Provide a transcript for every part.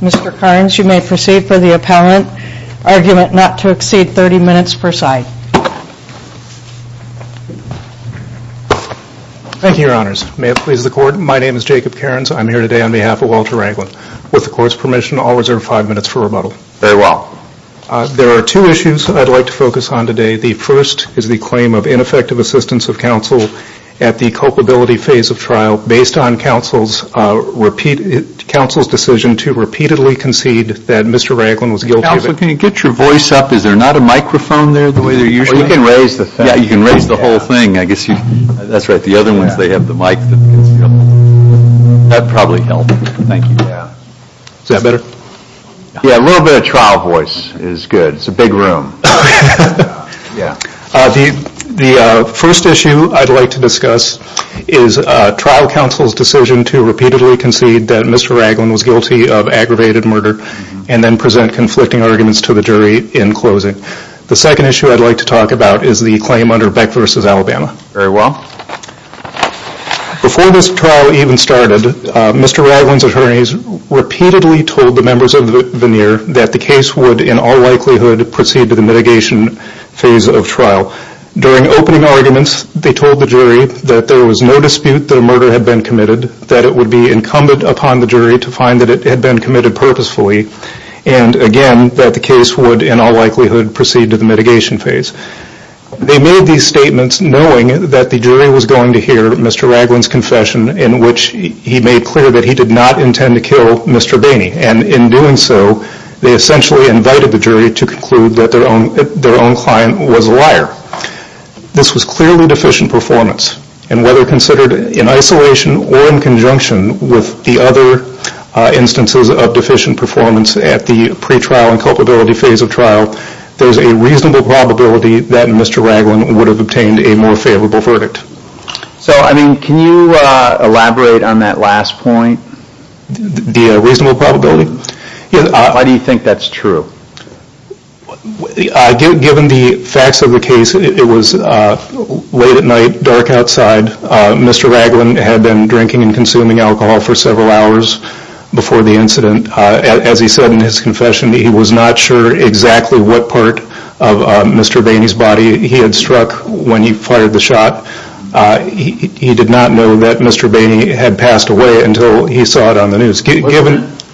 Mr. Karnes, you may proceed for the appellant argument not to exceed 30 minutes per side. Thank you, your honors. May it please the court, my name is Jacob Karnes. I'm here today on behalf of Walter Raglin. With the court's permission, I'll reserve five minutes for rebuttal. Very well. There are two issues I'd like to focus on today. The first is the defective assistance of counsel at the culpability phase of trial based on counsel's decision to repeatedly concede that Mr. Raglin was guilty of it. Counsel, can you get your voice up? Is there not a microphone there the way they're usually used? You can raise the whole thing. That's right, the other ones, they have the mic. That probably helped. Thank you, yeah. Is that better? Yeah, a little bit of trial voice is good. It's a big room. The first issue I'd like to discuss is trial counsel's decision to repeatedly concede that Mr. Raglin was guilty of aggravated murder and then present conflicting arguments to the jury in closing. The second issue I'd like to talk about is the claim under Beck v. Alabama. Very well. Before this trial even started, Mr. Raglin's attorneys repeatedly told the members of the veneer that the case would, in all likelihood, proceed to the mitigation phase of trial. During opening arguments, they told the jury that there was no dispute that a murder had been committed, that it would be incumbent upon the jury to find that it had been committed purposefully and, again, that the case would, in all likelihood, proceed to the mitigation phase. They made these statements knowing that the jury was going to hear Mr. Raglin's confession in which he made clear that he did not intend to kill Mr. Boehne, and in doing so, they essentially invited the jury to conclude that their own client was a liar. This was clearly deficient performance, and whether considered in isolation or in conjunction with the other instances of deficient performance at the pre-trial and culpability phase of the case, Mr. Raglin would have obtained a more favorable verdict. Can you elaborate on that last point? The reasonable probability? Why do you think that's true? Given the facts of the case, it was late at night, dark outside, Mr. Raglin had been drinking and consuming alcohol for several hours before the incident. As he said in his confession, he was not sure exactly what part of Mr. Boehne's body he had struck when he fired the shot. He did not know that Mr. Boehne had passed away until he saw it on the news.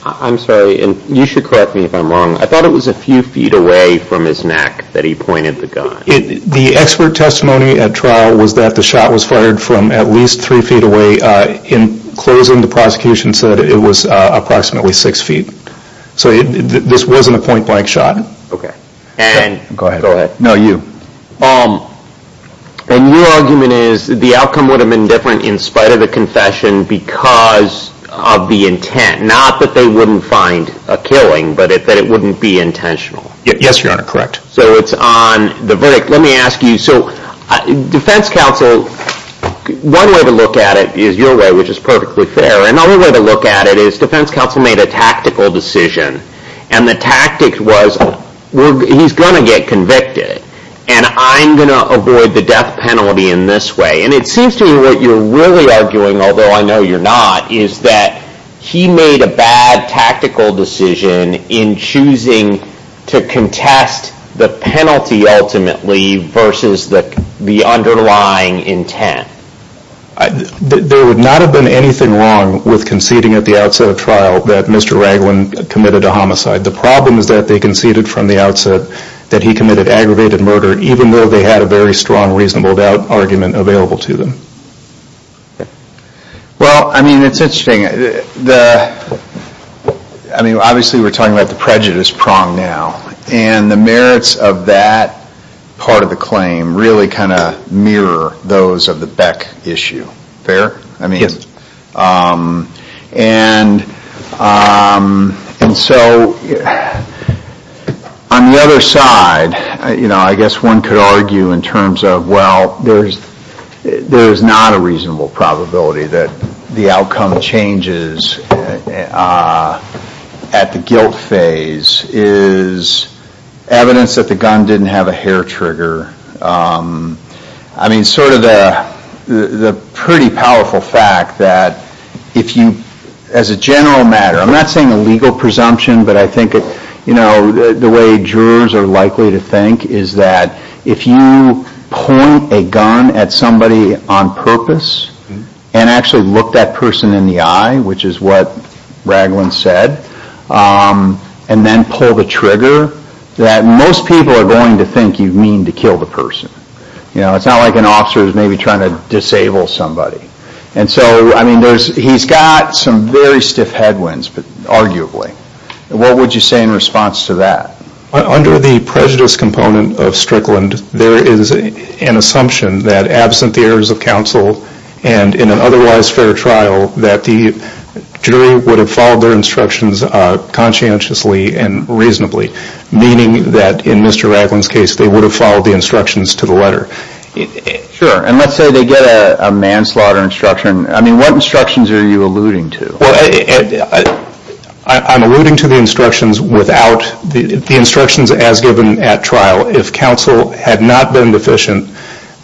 I'm sorry, and you should correct me if I'm wrong, I thought it was a few feet away from his neck that he pointed the gun. The expert testimony at trial was that the shot was fired from at least three feet away. In closing, the prosecution said it was approximately six feet. This wasn't a point-blank shot. Okay. Go ahead. No, you. Your argument is the outcome would have been different in spite of the confession because of the intent. Not that they wouldn't find a killing, but that it wouldn't be intentional. Yes, Your Honor, correct. So it's on the verdict. Let me ask you, so defense counsel, one way to look at it is your way, which is perfectly fair. Another way to look at it is defense counsel made a tactical decision, and the tactic was he's going to get convicted, and I'm going to avoid the death penalty in this way. It seems to me what you're really arguing, although I know you're not, is that he made a bad tactical decision in choosing to contest the penalty ultimately versus the underlying intent. There would not have been anything wrong with conceding at the outset of trial that Mr. Raglin committed a homicide. The problem is that they conceded from the outset that he committed aggravated murder even though they had a very strong reasonable doubt argument available to them. Well, I mean, it's interesting. I mean, obviously we're talking about the prejudice prong now, and the merits of that part of the claim really kind of mirror those of the Beck issue. Fair? Yes. And so on the other side, I guess one could argue in terms of, well, there's not a reasonable probability that the outcome changes at the guilt phase is evidence that the gun didn't have a hair trigger. I mean, sort of the pretty powerful fact that if you, as a general matter, I'm not saying a legal presumption, but I think the way jurors are likely to think is that if you point a and actually look that person in the eye, which is what Raglin said, and then pull the trigger, that most people are going to think you mean to kill the person. You know, it's not like an officer is maybe trying to disable somebody. And so, I mean, he's got some very stiff headwinds, arguably. What would you say in response to that? Under the prejudice component of Strickland, there is an assumption that absent the errors of counsel and in an otherwise fair trial, that the jury would have followed their instructions conscientiously and reasonably, meaning that in Mr. Raglin's case, they would have followed the instructions to the letter. Sure. And let's say they get a manslaughter instruction. I mean, what instructions are you alluding to? I'm alluding to the instructions without, the instructions as given at trial. If counsel had not been deficient,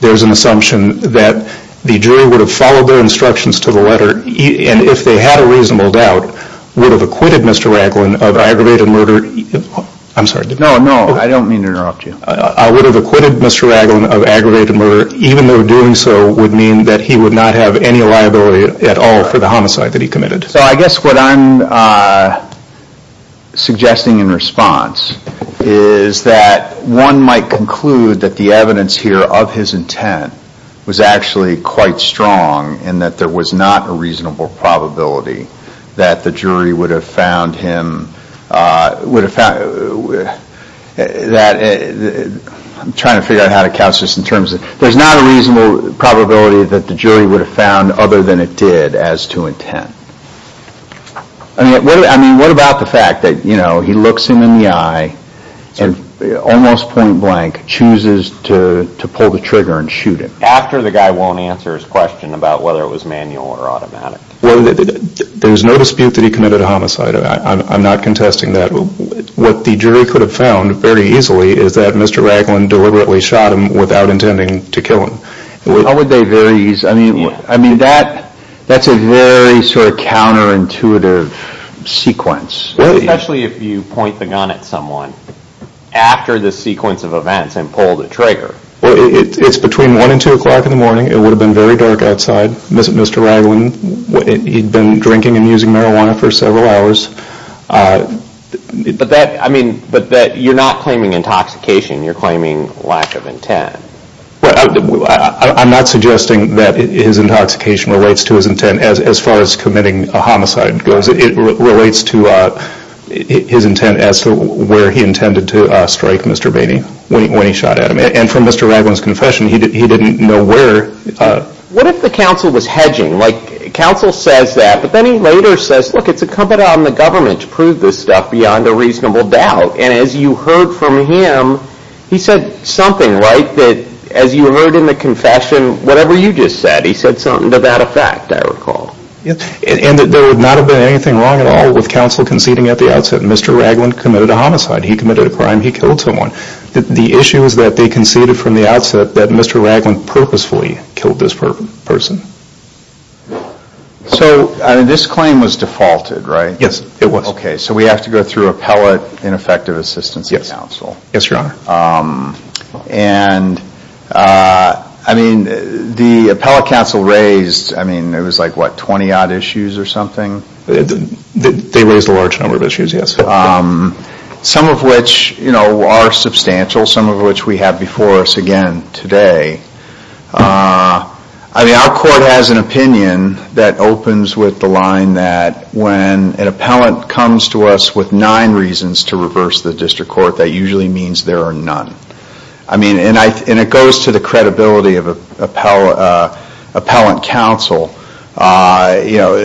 there's an assumption that the jury would have followed their instructions to the letter, and if they had a reasonable doubt, would have acquitted Mr. Raglin of aggravated murder. I'm sorry. No, no. I don't mean to interrupt you. I would have acquitted Mr. Raglin of aggravated murder, even though doing so would mean that he would not have any liability at all for the homicide that he committed. So I guess what I'm suggesting in response is that one might conclude that the evidence here of his intent was actually quite strong, and that there was not a reasonable probability that the jury would have found him, that, I'm trying to figure out how to count this in terms of, there's not a reasonable probability that the jury would have found other than it did as to intent. I mean, what about the fact that, you know, he looks him in the eye, and almost point blank chooses to pull the trigger and shoot him. After the guy won't answer his question about whether it was manual or automatic. There's no dispute that he committed a homicide. I'm not contesting that. What the jury could have found very easily is that Mr. Raglin deliberately shot him without intending to kill him. How would they very easily, I mean, that's a very sort of counterintuitive sequence. Especially if you point the gun at someone after the sequence of events and pull the trigger. It's between 1 and 2 o'clock in the morning, it would have been very dark outside, Mr. Raglin, he'd been drinking and using marijuana for several hours. But that, I mean, you're not claiming intoxication, you're claiming lack of intent. Well, I'm not suggesting that his intoxication relates to his intent as far as committing a homicide goes. It relates to his intent as to where he intended to strike Mr. Bainey when he shot at him. And from Mr. Raglin's confession, he didn't know where. What if the counsel was hedging? Like, counsel says that, but then he later says, look, it's incumbent on the government to prove this stuff beyond a reasonable doubt. And as you heard from him, he said something, right, that as you heard in the confession, whatever you just said, he said something to that effect, I recall. And there would not have been anything wrong at all with counsel conceding at the outset Mr. Raglin committed a homicide, he committed a crime, he killed someone. The issue is that they conceded from the outset that Mr. Raglin purposefully killed this person. So this claim was defaulted, right? Yes, it was. Okay, so we have to go through appellate and effective assistance of counsel. Yes, your honor. And I mean, the appellate counsel raised, I mean, it was like, what, 20 odd issues or something? They raised a large number of issues, yes. Some of which, you know, are substantial, some of which we have before us again today. I mean, our court has an opinion that opens with the line that when an appellant comes to us with nine reasons to reverse the district court, that usually means there are none. I mean, and it goes to the credibility of appellate counsel. You know,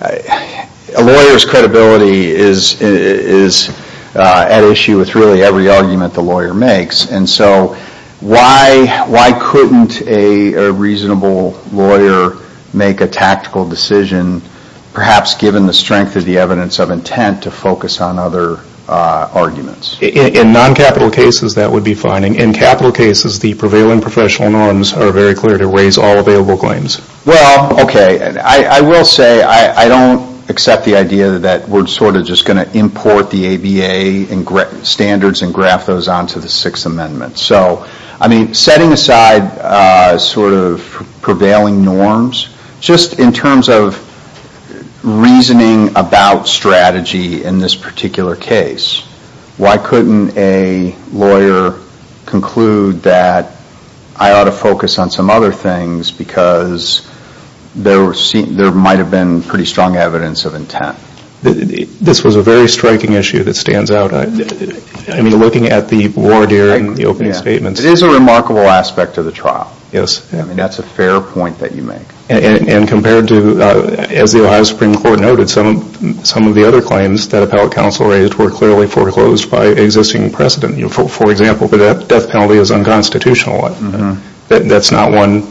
a lawyer's credibility is at issue with really every argument the lawyer makes. And so why couldn't a reasonable lawyer make a tactical decision, perhaps given the strength of the evidence of intent, to focus on other arguments? In non-capital cases, that would be fine. In capital cases, the prevailing professional norms are very clear to raise all available claims. Well, okay. I will say, I don't accept the idea that we're sort of just going to import the ABA standards and graph those onto the Sixth Amendment. So I mean, setting aside sort of prevailing norms, just in terms of reasoning about strategy in this particular case, why couldn't a lawyer conclude that I ought to focus on some other things because there might have been pretty strong evidence of intent? This was a very striking issue that stands out. I mean, looking at the war deer and the opening statements. It is a remarkable aspect of the trial. Yes. I mean, that's a fair point that you make. And compared to, as the Ohio Supreme Court noted, some of the other claims that appellate counsel raised were clearly foreclosed by existing precedent. For example, the death penalty is unconstitutional. That's not one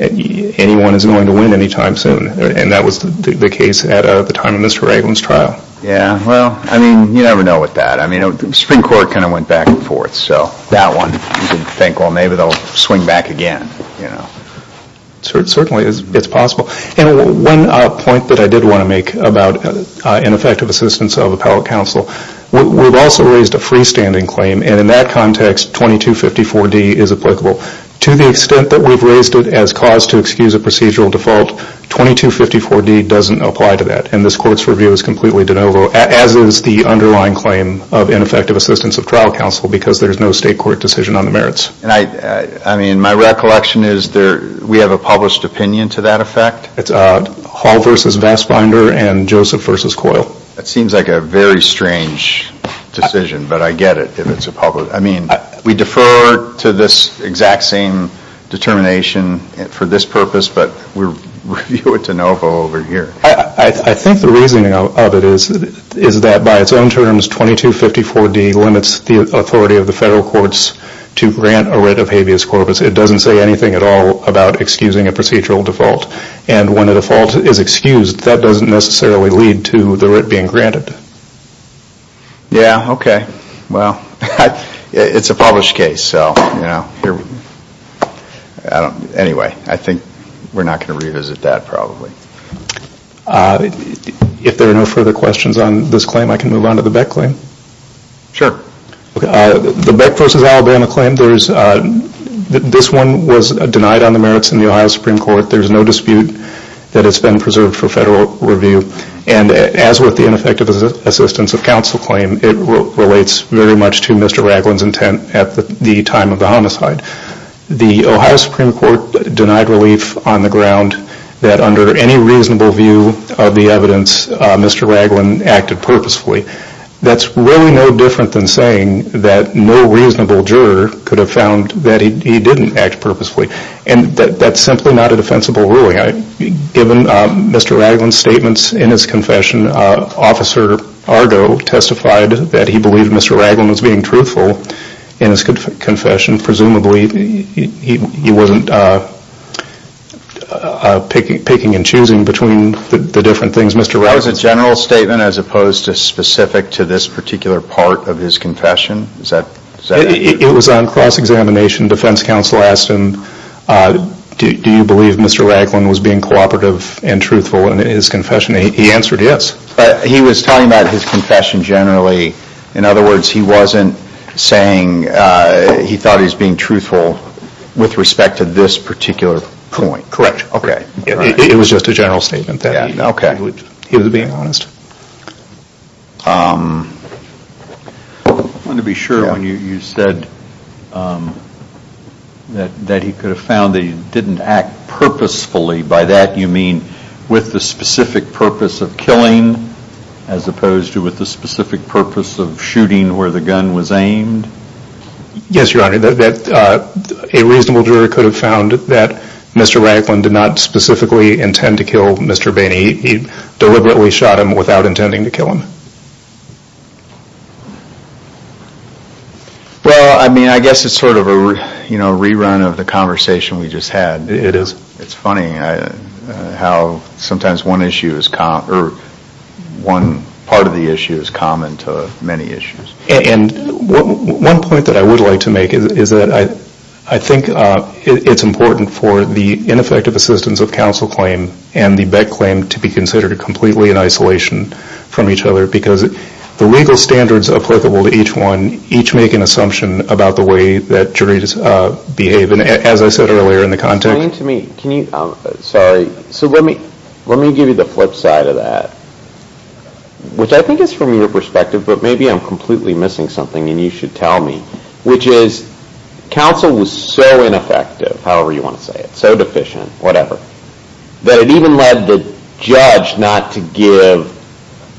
anyone is going to win any time soon. And that was the case at the time of Mr. Ragland's trial. Yeah, well, I mean, you never know with that. I mean, the Supreme Court kind of went back and forth. So that one, you can think, well, maybe they'll swing back again. Certainly, it's possible. And one point that I did want to make about ineffective assistance of appellate counsel, we've also raised a freestanding claim. And in that context, 2254D is applicable. To the extent that we've raised it as cause to excuse a procedural default, 2254D doesn't apply to that. And this court's review is completely de novo, as is the underlying claim of ineffective assistance of trial counsel, because there's no state court decision on the merits. I mean, my recollection is we have a published opinion to that effect. It's Hall v. Vassbinder and Joseph v. Coyle. That seems like a very strange decision, but I get it if it's a public. So, I mean, we defer to this exact same determination for this purpose, but we review it de novo over here. I think the reasoning of it is that by its own terms, 2254D limits the authority of the federal courts to grant a writ of habeas corpus. It doesn't say anything at all about excusing a procedural default. And when a default is excused, that doesn't necessarily lead to the writ being granted. Yeah. Okay. Well, it's a published case, so, you know, anyway, I think we're not going to revisit that probably. If there are no further questions on this claim, I can move on to the Beck claim. Sure. The Beck v. Alabama claim, this one was denied on the merits in the Ohio Supreme Court. There's no dispute that it's been preserved for federal review. And as with the ineffective assistance of counsel claim, it relates very much to Mr. Raglin's intent at the time of the homicide. The Ohio Supreme Court denied relief on the ground that under any reasonable view of the evidence, Mr. Raglin acted purposefully. That's really no different than saying that no reasonable juror could have found that he didn't act purposefully. And that's simply not a defensible ruling. Given Mr. Raglin's statements in his confession, Officer Argo testified that he believed Mr. Raglin was being truthful in his confession. Presumably he wasn't picking and choosing between the different things. That was a general statement as opposed to specific to this particular part of his confession? It was on cross-examination. Defense counsel asked him, do you believe Mr. Raglin was being cooperative and truthful in his confession? He answered yes. He was talking about his confession generally. In other words, he wasn't saying he thought he was being truthful with respect to this particular point? Correct. Okay. It was just a general statement? Yeah. Okay. He was being honest. I want to be sure when you said that he could have found that he didn't act purposefully. By that you mean with the specific purpose of killing as opposed to with the specific purpose of shooting where the gun was aimed? Yes, your honor. A reasonable juror could have found that Mr. Raglin did not specifically intend to kill Mr. Bainey. He deliberately shot him without intending to kill him. I guess it's sort of a rerun of the conversation we just had. It is. It's funny how sometimes one part of the issue is common to many issues. One point that I would like to make is that I think it's important for the ineffective assistance of counsel claim and the bet claim to be considered completely in isolation from each other because the legal standards applicable to each one each make an assumption about the way that jurors behave. As I said earlier in the context... Explain to me. Can you... I'm sorry. Let me give you the flip side of that, which I think is from your perspective, but maybe I'm completely missing something and you should tell me, which is counsel was so ineffective, however you want to say it, so deficient, whatever, that it even led the judge not to give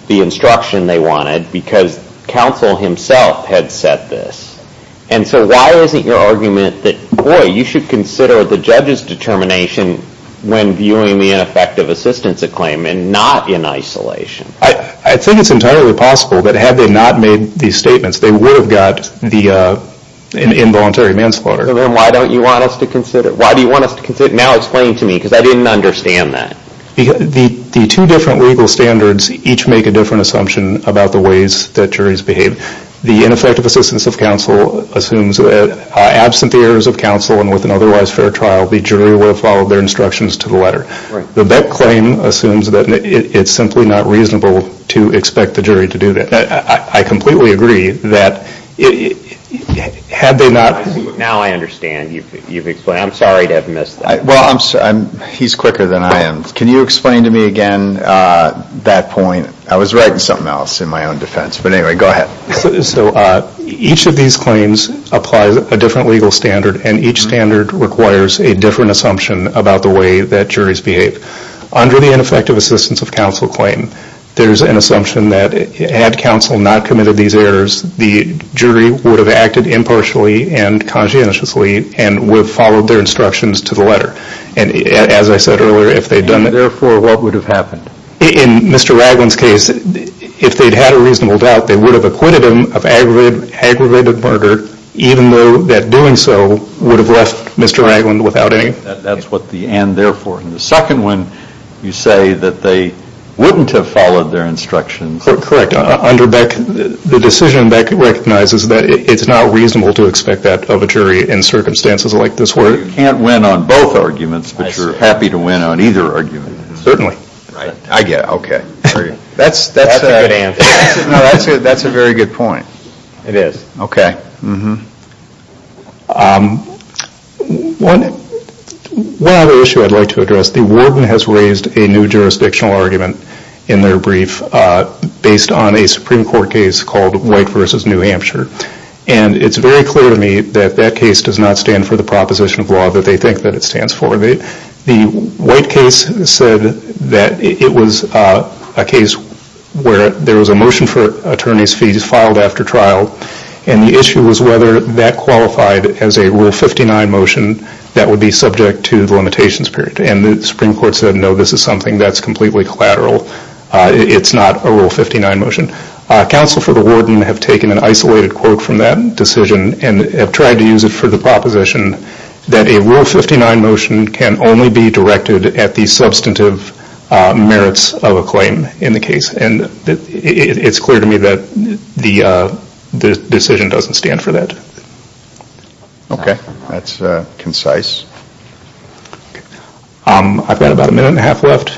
the instruction they wanted because counsel himself had said this. And so why isn't your argument that, boy, you should consider the judge's determination when viewing the ineffective assistance of claim and not in isolation? I think it's entirely possible that had they not made these statements, they would have got the involuntary manslaughter. So then why don't you want us to consider... Why do you want us to consider... Now explain to me because I didn't understand that. The two different legal standards each make a different assumption about the ways that juries behave. The ineffective assistance of counsel assumes that absent the errors of counsel and with an otherwise fair trial, the jury would have followed their instructions to the letter. The bet claim assumes that it's simply not reasonable to expect the jury to do that. I completely agree that had they not... Now I understand. You've explained. I'm sorry to have missed that. Well, he's quicker than I am. Can you explain to me again that point? I was writing something else in my own defense, but anyway, go ahead. So each of these claims applies a different legal standard and each standard requires a different assumption about the way that juries behave. Under the ineffective assistance of counsel claim, there's an assumption that had counsel not committed these errors, the jury would have acted impartially and conscientiously and would have followed their instructions to the letter. As I said earlier, if they'd done... And therefore, what would have happened? In Mr. Ragland's case, if they'd had a reasonable doubt, they would have acquitted him of aggravated murder even though that doing so would have left Mr. Ragland without any... That's what the and therefore. In the second one, you say that they wouldn't have followed their instructions. Correct. The decision that recognizes that it's not reasonable to expect that of a jury in circumstances like this where... You can't win on both arguments, but you're happy to win on either argument. Certainly. Right. I get it. Okay. That's a good answer. That's a very good point. It is. Okay. One other issue I'd like to address, the warden has raised a new jurisdictional argument in their brief based on a Supreme Court case called White v. New Hampshire. It's very clear to me that that case does not stand for the proposition of law that they think that it stands for. The White case said that it was a case where there was a motion for attorney's fees filed after trial. The issue was whether that qualified as a Rule 59 motion that would be subject to the limitations period. The Supreme Court said, no, this is something that's completely collateral. It's not a Rule 59 motion. Counsel for the warden have taken an isolated quote from that decision and have tried to use it for the proposition that a Rule 59 motion can only be directed at the substantive merits of a claim in the case. It's clear to me that the decision doesn't stand for that. Okay. That's concise. I've got about a minute and a half left.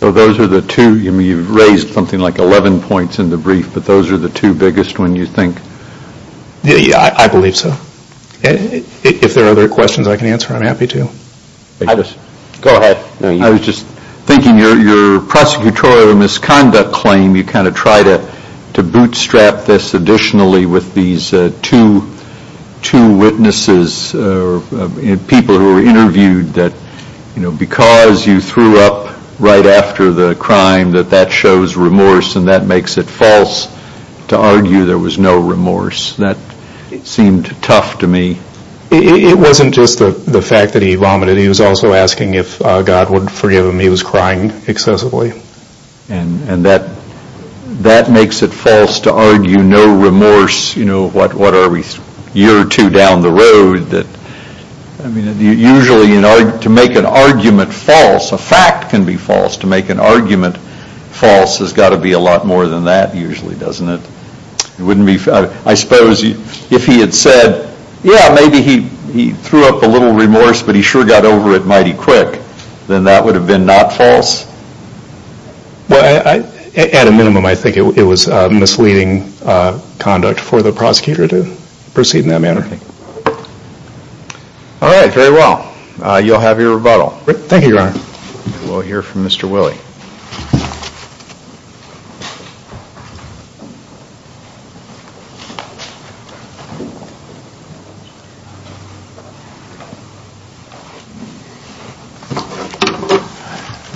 So those are the two, you've raised something like 11 points in the brief, but those are the two biggest when you think? I believe so. If there are other questions I can answer, I'm happy to. Go ahead. I was just thinking your prosecutorial misconduct claim, you kind of try to bootstrap this additionally with these two witnesses, people who were interviewed, that because you threw up right after the crime that that shows remorse and that makes it false to argue there was no remorse. That seemed tough to me. It wasn't just the fact that he vomited, he was also asking if God would forgive him, he was crying excessively. And that makes it false to argue no remorse, you know, what are we, a year or two down the road that, I mean, usually to make an argument false, a fact can be false, to make an argument false has got to be a lot more than that usually, doesn't it? I suppose if he had said, yeah, maybe he threw up a little remorse, but he sure got over it mighty quick, then that would have been not false? Well, at a minimum, I think it was misleading conduct for the prosecutor to proceed in that manner. All right, very well. You'll have your rebuttal. Thank you, Your Honor. We'll hear from Mr. Willie.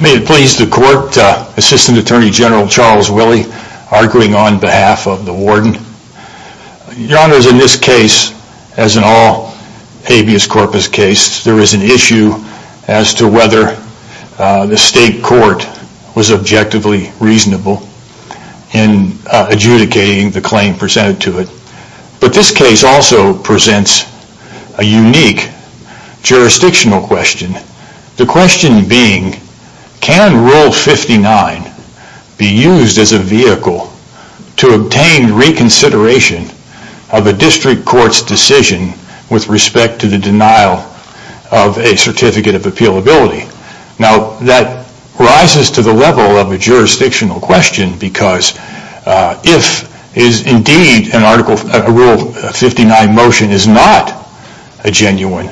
May it please the court, Assistant Attorney General Charles Willie, arguing on behalf of the warden. Your Honor, in this case, as in all habeas corpus cases, there is an issue as to whether the state court was objectively reasonable in adjudicating the claim presented to it. But this case also presents a unique jurisdictional question. The question being, can Rule 59 be used as a vehicle to obtain reconsideration of a district court's decision with respect to the denial of a certificate of appealability? Now that rises to the level of a jurisdictional question, because if, indeed, a Rule 59 motion is not a genuine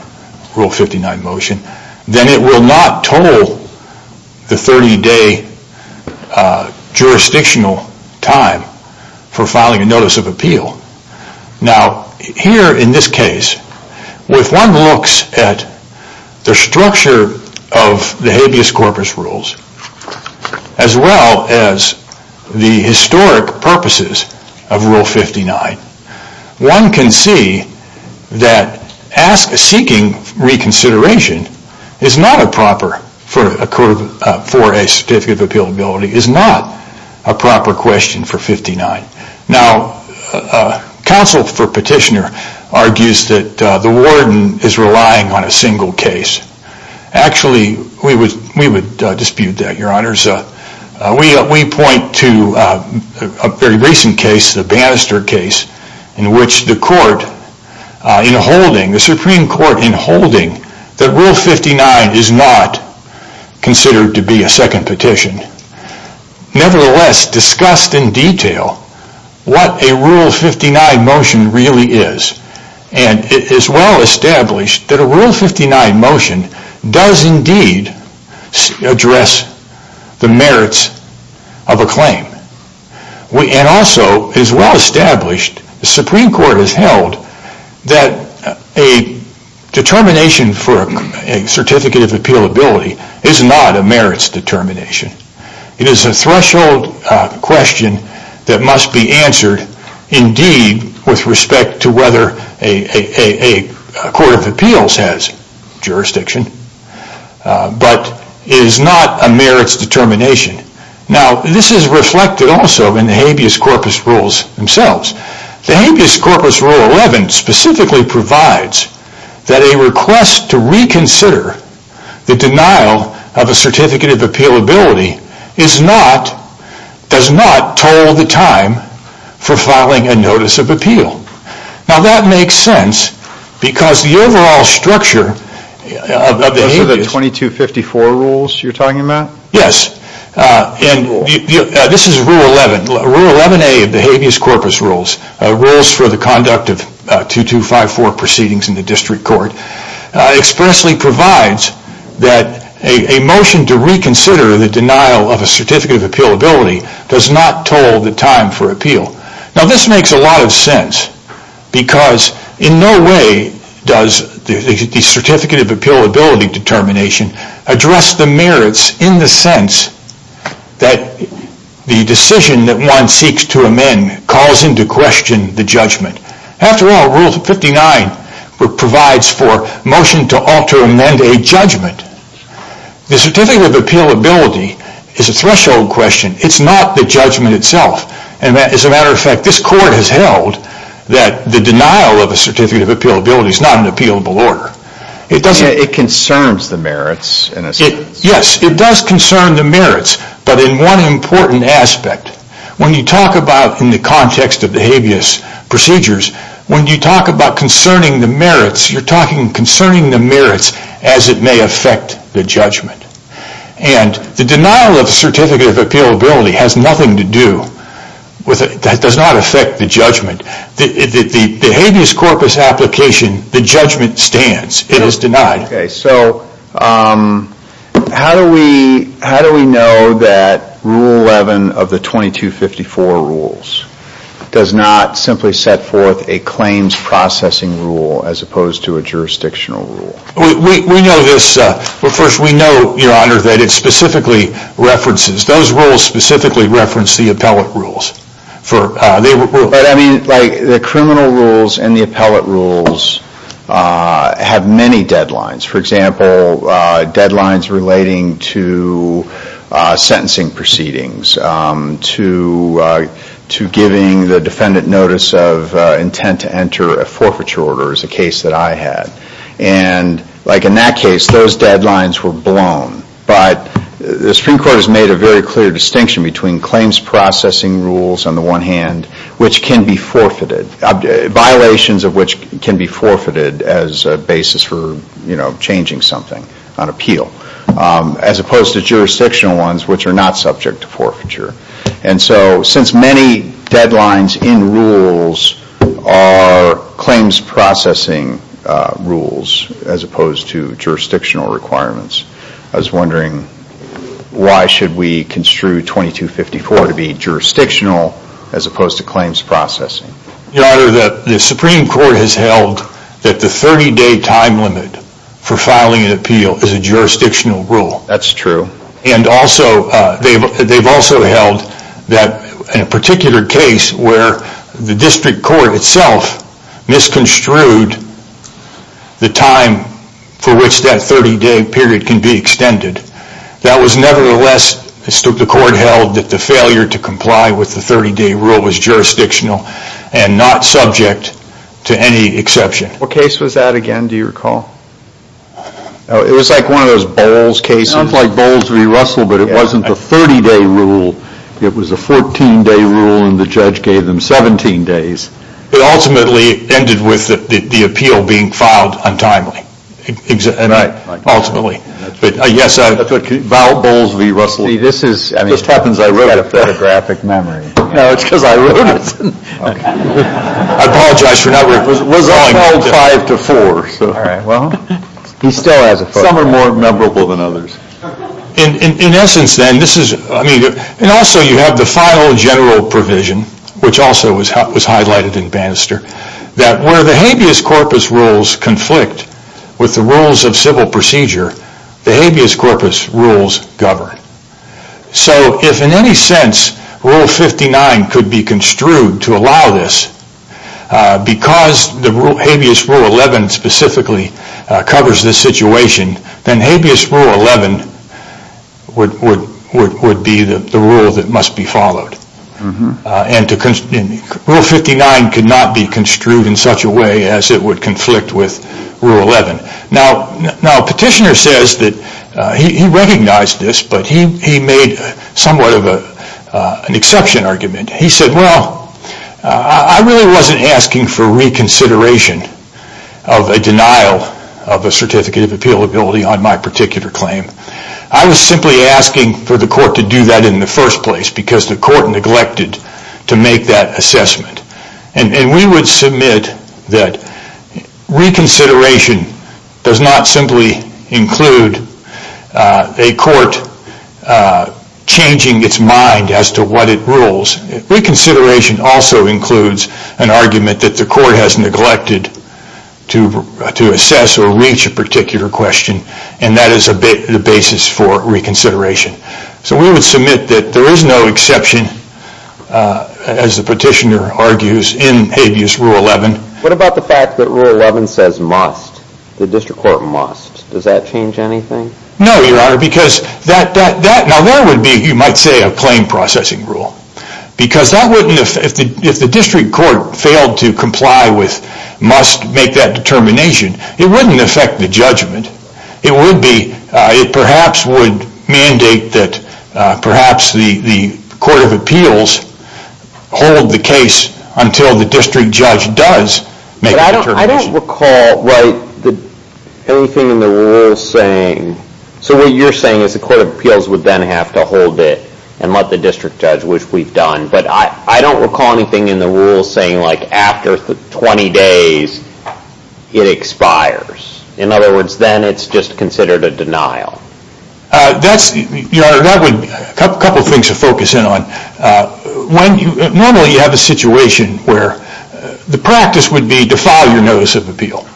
Rule 59 motion, then it will not toll the 30-day jurisdictional time for filing a notice of appeal. Now, here in this case, if one looks at the structure of the habeas corpus rules, as well as the historic purposes of Rule 59, one can see that seeking reconsideration for a certificate of appealability is not a proper question for Rule 59. Now, counsel for petitioner argues that the warden is relying on a single case. Actually, we would dispute that, Your Honors. We point to a very recent case, the Bannister case, in which the Supreme Court, in holding that Rule 59 is not considered to be a second petition, nevertheless discussed in detail what a Rule 59 motion really is. And it is well established that a Rule 59 motion does, indeed, address the merits of a claim. And also, it is well established, the Supreme Court has held, that a determination for a certificate of appealability is not a merits determination. It is a threshold question that must be answered, indeed, with respect to whether a court of appeals has jurisdiction, but is not a merits determination. Now this is reflected also in the habeas corpus rules themselves. The habeas corpus Rule 11 specifically provides that a request to reconsider the denial of certificate of appealability does not toll the time for filing a notice of appeal. Now that makes sense because the overall structure of the habeas corpus rules for the conduct of 2254 proceedings in the district court expressly provides that a motion to reconsider the denial of a certificate of appealability does not toll the time for appeal. Now this makes a lot of sense because in no way does the certificate of appealability determination address the merits in the sense that the decision that one seeks to amend calls into question the judgment. After all, Rule 59 provides for a motion to alter and amend a judgment. The certificate of appealability is a threshold question. It is not the judgment itself. And as a matter of fact, this court has held that the denial of a certificate of appealability is not an appealable order. It concerns the merits in a sense. Yes, it does concern the merits, but in one important aspect. When you talk about, in the context of the habeas procedures, when you talk about concerning the merits, you are talking concerning the merits as it may affect the judgment. And the denial of the certificate of appealability has nothing to do, does not affect the judgment. The habeas corpus application, the judgment stands. It is denied. Okay, so how do we know that Rule 11 of the 2254 rules does not simply set forth a claims processing rule as opposed to a jurisdictional rule? We know this, but first we know, Your Honor, that it specifically references, those rules specifically reference the appellate rules. I mean, the criminal rules and the appellate rules have many deadlines. For example, deadlines relating to sentencing proceedings, to giving the defendant notice of intent to enter a forfeiture order is a case that I had. And like in that case, those deadlines were blown, but the Supreme Court has made a very rules on the one hand, which can be forfeited, violations of which can be forfeited as a basis for changing something on appeal, as opposed to jurisdictional ones which are not subject to forfeiture. And so, since many deadlines in rules are claims processing rules as opposed to jurisdictional requirements, I was wondering why should we construe 2254 to be jurisdictional as opposed to claims processing? Your Honor, the Supreme Court has held that the 30 day time limit for filing an appeal is a jurisdictional rule. That's true. And also, they've also held that in a particular case where the district court itself misconstrued the time for which that 30 day period can be extended, that was nevertheless, the court held that the failure to comply with the 30 day rule was jurisdictional and not subject to any exception. What case was that again, do you recall? It was like one of those Bowles cases. It sounds like Bowles v. Russell, but it wasn't the 30 day rule. It was a 14 day rule and the judge gave them 17 days. It ultimately ended with the appeal being filed untimely. Right. Ultimately. Bowles v. Russell. See, this is, I mean. This happens, I wrote it. You've got a photographic memory. No, it's because I wrote it. Okay. I apologize for not, it was all I could do. It was filed five to four, so. All right, well. He still has a photograph. Some are more memorable than others. In essence then, this is, I mean, and also you have the final general provision which also was highlighted in Bannister, that where the habeas corpus rules conflict with the rules of civil procedure, the habeas corpus rules govern. So if in any sense rule 59 could be construed to allow this, because the habeas rule 11 specifically covers this situation, then habeas rule 11 would be the rule that must be followed. And rule 59 could not be construed in such a way as it would conflict with rule 11. Now Petitioner says that, he recognized this, but he made somewhat of an exception argument. He said, well, I really wasn't asking for reconsideration of a denial of a certificate of appealability on my particular claim. I was simply asking for the court to do that in the first place, because the court neglected to make that assessment. And we would submit that reconsideration does not simply include a court changing its mind as to what it rules. Reconsideration also includes an argument that the court has neglected to assess or reconsideration. So we would submit that there is no exception, as the Petitioner argues, in habeas rule 11. What about the fact that rule 11 says must, the district court must, does that change anything? No, your honor, because that, now there would be, you might say, a claim processing rule. Because that wouldn't, if the district court failed to comply with must make that determination, it wouldn't affect the judgment. It would be, it perhaps would mandate that perhaps the Court of Appeals hold the case until the district judge does make the determination. But I don't recall anything in the rules saying, so what you're saying is the Court of Appeals would then have to hold it and let the district judge, which we've done. But I don't recall anything in the rules saying like after 20 days it expires. In other words, then it's just considered a denial. That's, your honor, that would, a couple of things to focus in on. When you, normally you have a situation where the practice would be to file your Notice of Appeal.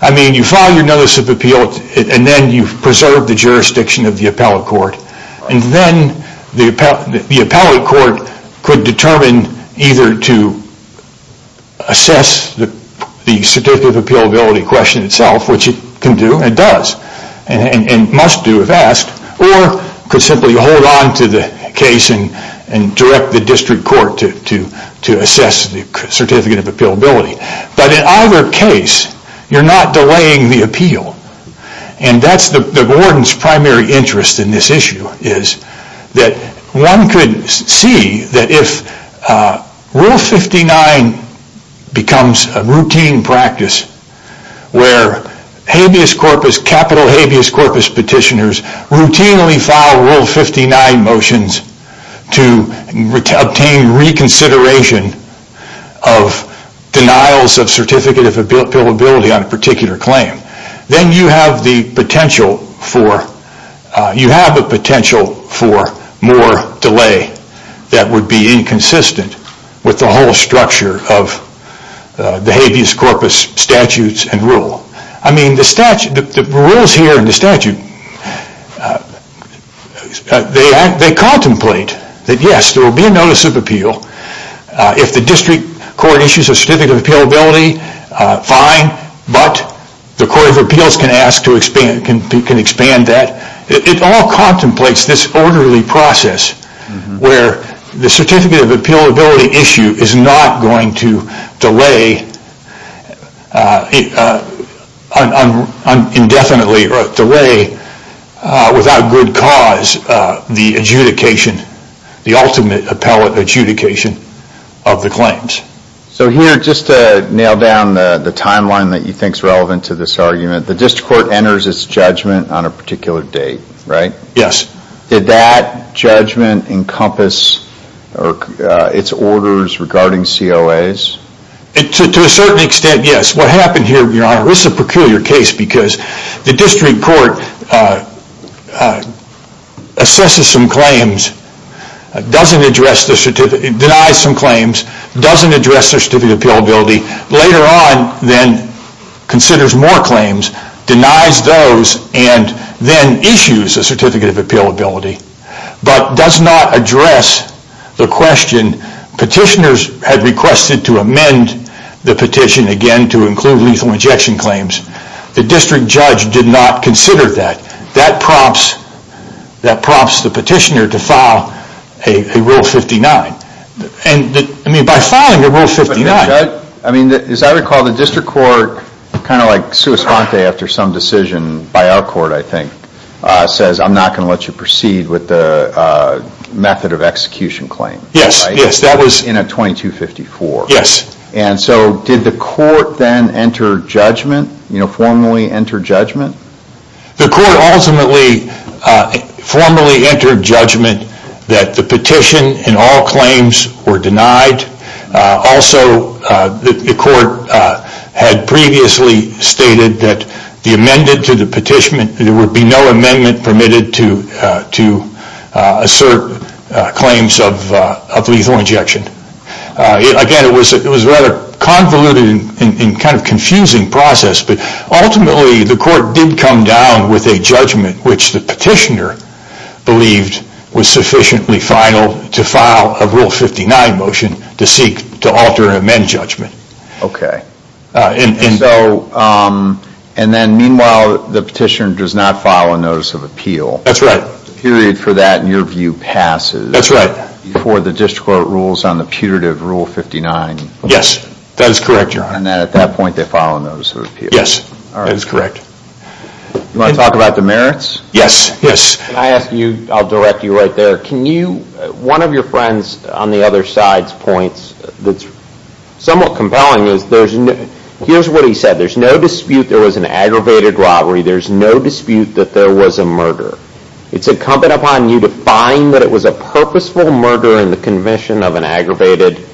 I mean, you file your Notice of Appeal and then you preserve the jurisdiction of the appellate court. And then the appellate court could determine either to assess the Certificate of Appealability question itself, which it can do, and it does, and must do if asked, or could simply hold on to the case and direct the district court to assess the Certificate of Appealability. But in either case, you're not delaying the appeal. And that's the warden's primary interest in this issue, is that one could see that if Rule 59 becomes a routine practice where habeas corpus, capital habeas corpus petitioners routinely file Rule 59 motions to obtain reconsideration of denials of Certificate of Appealability on a particular claim, then you have the potential for, you have the potential for more delay that would be inconsistent with the whole structure of the habeas corpus statutes and rule. I mean, the rules here in the statute, they contemplate that yes, there will be a Notice of Appeal if the district court issues a Certificate of Appealability, fine, but the Court of Appeals can ask to expand that. It all contemplates this orderly process where the Certificate of Appealability issue is not going to delay indefinitely or delay without good cause the adjudication, the ultimate appellate adjudication of the claims. So here, just to nail down the timeline that you think is relevant to this argument, the district court enters its judgment on a particular date, right? Yes. Did that judgment encompass its orders regarding COAs? To a certain extent, yes. What happened here, Your Honor, this is a peculiar case because the district court assesses some claims, denies some claims, doesn't address the Certificate of Appealability, later on then considers more claims, denies those, and then issues a Certificate of Appealability, but does not address the question petitioners had requested to amend the petition, again to include lethal injection claims. The district judge did not consider that. That prompts the petitioner to file a Rule 59. By filing a Rule 59, I mean, as I recall, the district court, kind of like sui sponte after some decision by our court, I think, says, I'm not going to let you proceed with the method of execution claim. Yes. That was in a 2254. Yes. And so did the court then enter judgment, formally enter judgment? The court ultimately formally entered judgment that the petition and all claims were denied. Also, the court had previously stated that the amendment to the petition, there would be no amendment permitted to assert claims of lethal injection. Again, it was a rather convoluted and kind of confusing process, but ultimately the court did come down with a judgment which the petitioner believed was sufficiently final to file a Rule 59 motion to seek to alter and amend judgment. Okay. And so, and then meanwhile, the petitioner does not file a Notice of Appeal. That's right. Period for that, in your view, passes. That's right. Before the district court rules on the putative Rule 59. Yes. That is correct, Your Honor. And at that point, they file a Notice of Appeal. Yes. That is correct. You want to talk about the merits? Yes. Yes. Can I ask you, I'll direct you right there, can you, one of your friends on the other side's points that's somewhat compelling is there's, here's what he said, there's no dispute there was an aggravated robbery, there's no dispute that there was a murder. It's incumbent upon you to find that it was a purposeful murder in the convention of an aggravated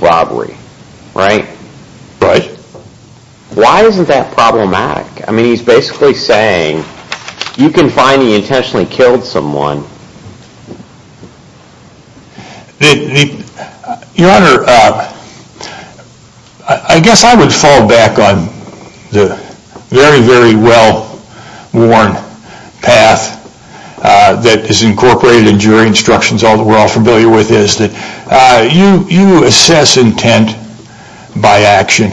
robbery. Right? Right. Why isn't that problematic? I mean, he's basically saying, you can find he intentionally killed someone. Your Honor, I guess I would fall back on the very, very well-worn path that is incorporated in jury instructions that we're all familiar with, is that you assess intent by action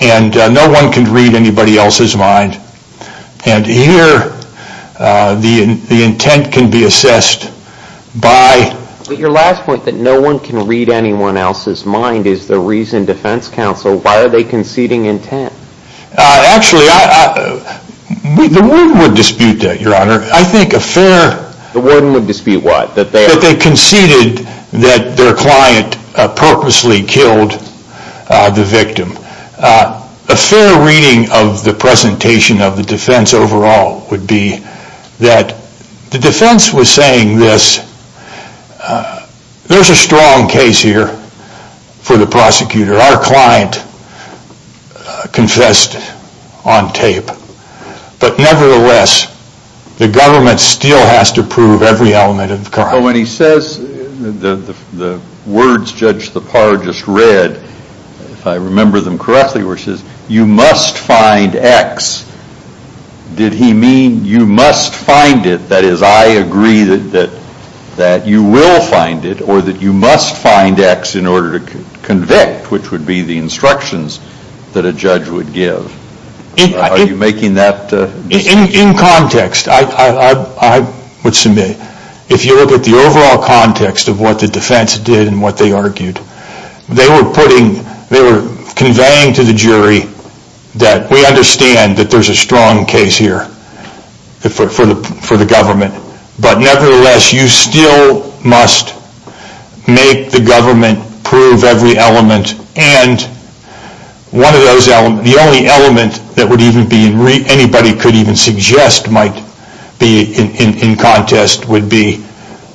and no one can read anybody else's mind. And here, the intent can be assessed by... But your last point that no one can read anyone else's mind is the reason defense counsel, why are they conceding intent? Actually, the warden would dispute that, Your Honor. I think a fair... The warden would dispute what? That they conceded that their client purposely killed the victim. A fair reading of the presentation of the defense overall would be that the defense was saying this, there's a strong case here for the prosecutor. Our client confessed on tape. But nevertheless, the government still has to prove every element of the crime. When he says the words Judge Lepar just read, if I remember them correctly, where he says, you must find X, did he mean you must find it, that is, I agree that you will find it, or that you must find X in order to convict, which would be the instructions that a judge would give? Are you making that... In context, I would submit, if you look at the overall context of what the defense did and what they argued, they were putting, they were conveying to the jury that we understand that there's a strong case here for the government, but nevertheless, you still must make the government prove every element and the only element that anybody could even suggest might be in contest would be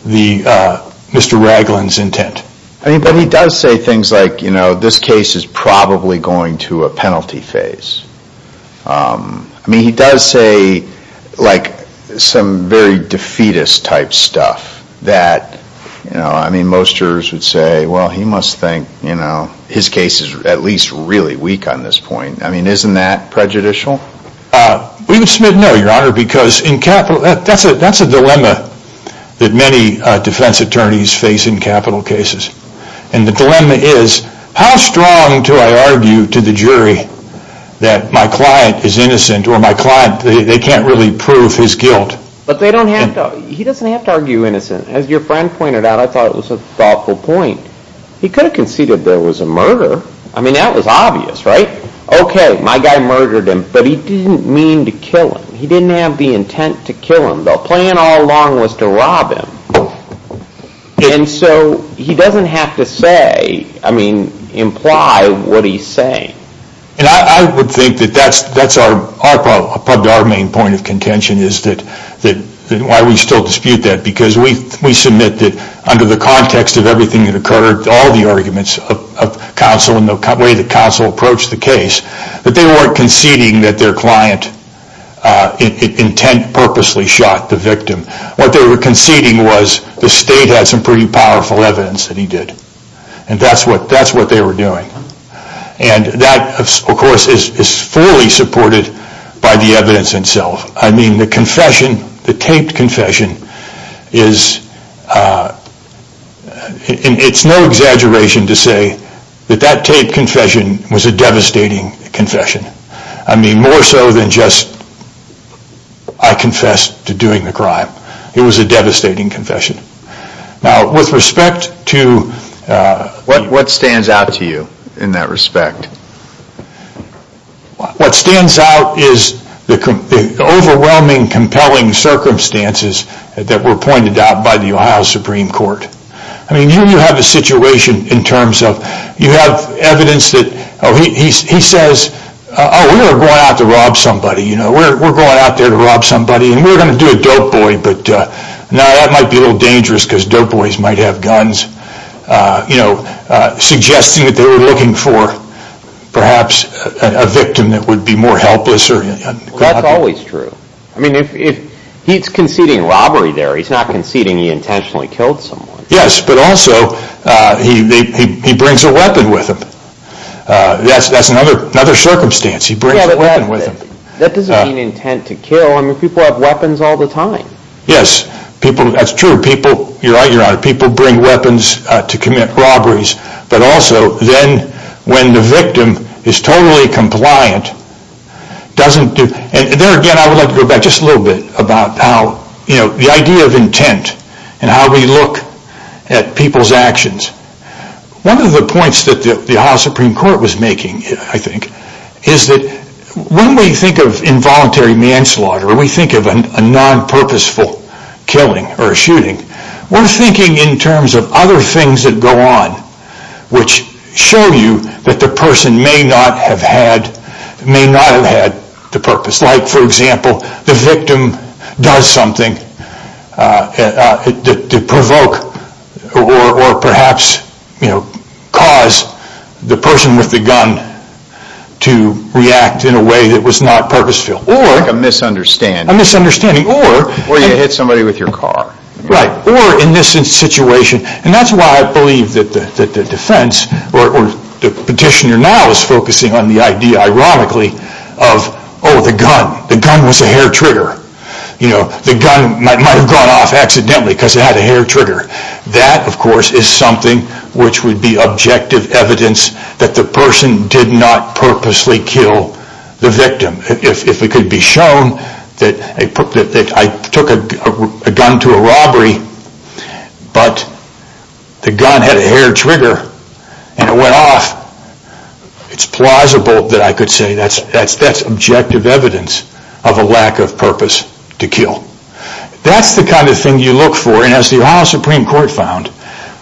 Mr. Ragland's intent. But he does say things like, you know, this case is probably going to a penalty phase. I mean, he does say, like, some very defeatist type stuff that, you know, I mean, most jurors would say, well, he must think, you know, his case is at least really weak on this point. I mean, isn't that prejudicial? We would submit no, Your Honor, because in capital... That's a dilemma that many defense attorneys face in capital cases. And the dilemma is, how strong do I argue to the jury that my client is innocent or my client, they can't really prove his guilt. But they don't have to, he doesn't have to argue innocent. As your friend pointed out, I thought it was a thoughtful point. He could have conceded there was a murder. I mean, that was obvious, right? Okay, my guy murdered him, but he didn't mean to kill him. He didn't have the intent to kill him. The plan all along was to rob him. And so he doesn't have to say, I mean, imply what he's saying. And I would think that that's our problem. Our main point of contention is that why we still dispute that because we submit that under the context of everything that occurred, all the arguments of counsel and the way that counsel approached the case, that they weren't conceding that their client intent-purposely shot the victim. What they were conceding was the state had some pretty powerful evidence that he did. And that's what they were doing. And that, of course, is fully supported by the evidence itself. I mean, the confession, the taped confession, it's no exaggeration to say that that taped confession was a devastating confession. I mean, more so than just, I confessed to doing the crime. It was a devastating confession. Now, with respect to... In that respect, what stands out is the overwhelming, compelling circumstances that were pointed out by the Ohio Supreme Court. I mean, here you have a situation in terms of, you have evidence that, oh, he says, oh, we're going out to rob somebody, you know, we're going out there to rob somebody and we're going to do a dope boy, but now that might be a little dangerous because dope boys might have guns. You know, suggesting that they were looking for perhaps a victim that would be more helpless. That's always true. I mean, if he's conceding robbery there, he's not conceding he intentionally killed someone. Yes, but also, he brings a weapon with him. That's another circumstance. He brings a weapon with him. That doesn't mean intent to kill. I mean, people have weapons all the time. Yes, people, that's true, people, you're right, you're right, people bring weapons to commit robberies, but also then when the victim is totally compliant, doesn't do... And there again, I would like to go back just a little bit about how, you know, the idea of intent and how we look at people's actions. One of the points that the Ohio Supreme Court was making, I think, is that when we think of involuntary manslaughter, when we think of a non-purposeful killing or shooting, we're thinking in terms of other things that go on, which show you that the person may not have had, may not have had the purpose. Like, for example, the victim does something to provoke or perhaps, you know, cause the person with the gun to react in a way that was not purposeful. Like a misunderstanding. A misunderstanding, or... Or you hit somebody with your car. Right, or in this situation, and that's why I believe that the defense or the petitioner now is focusing on the idea, ironically, of, oh, the gun, the gun was a hair trigger, you know, the gun might have gone off accidentally because it had a hair trigger. That, of course, is something which would be objective evidence that the person did not purposely kill the victim. If it could be shown that I took a gun to a robbery but the gun had a hair trigger and it went off, it's plausible that I could say that's objective evidence of a lack of purpose to kill. That's the kind of thing you look for, and as the Ohio Supreme Court found,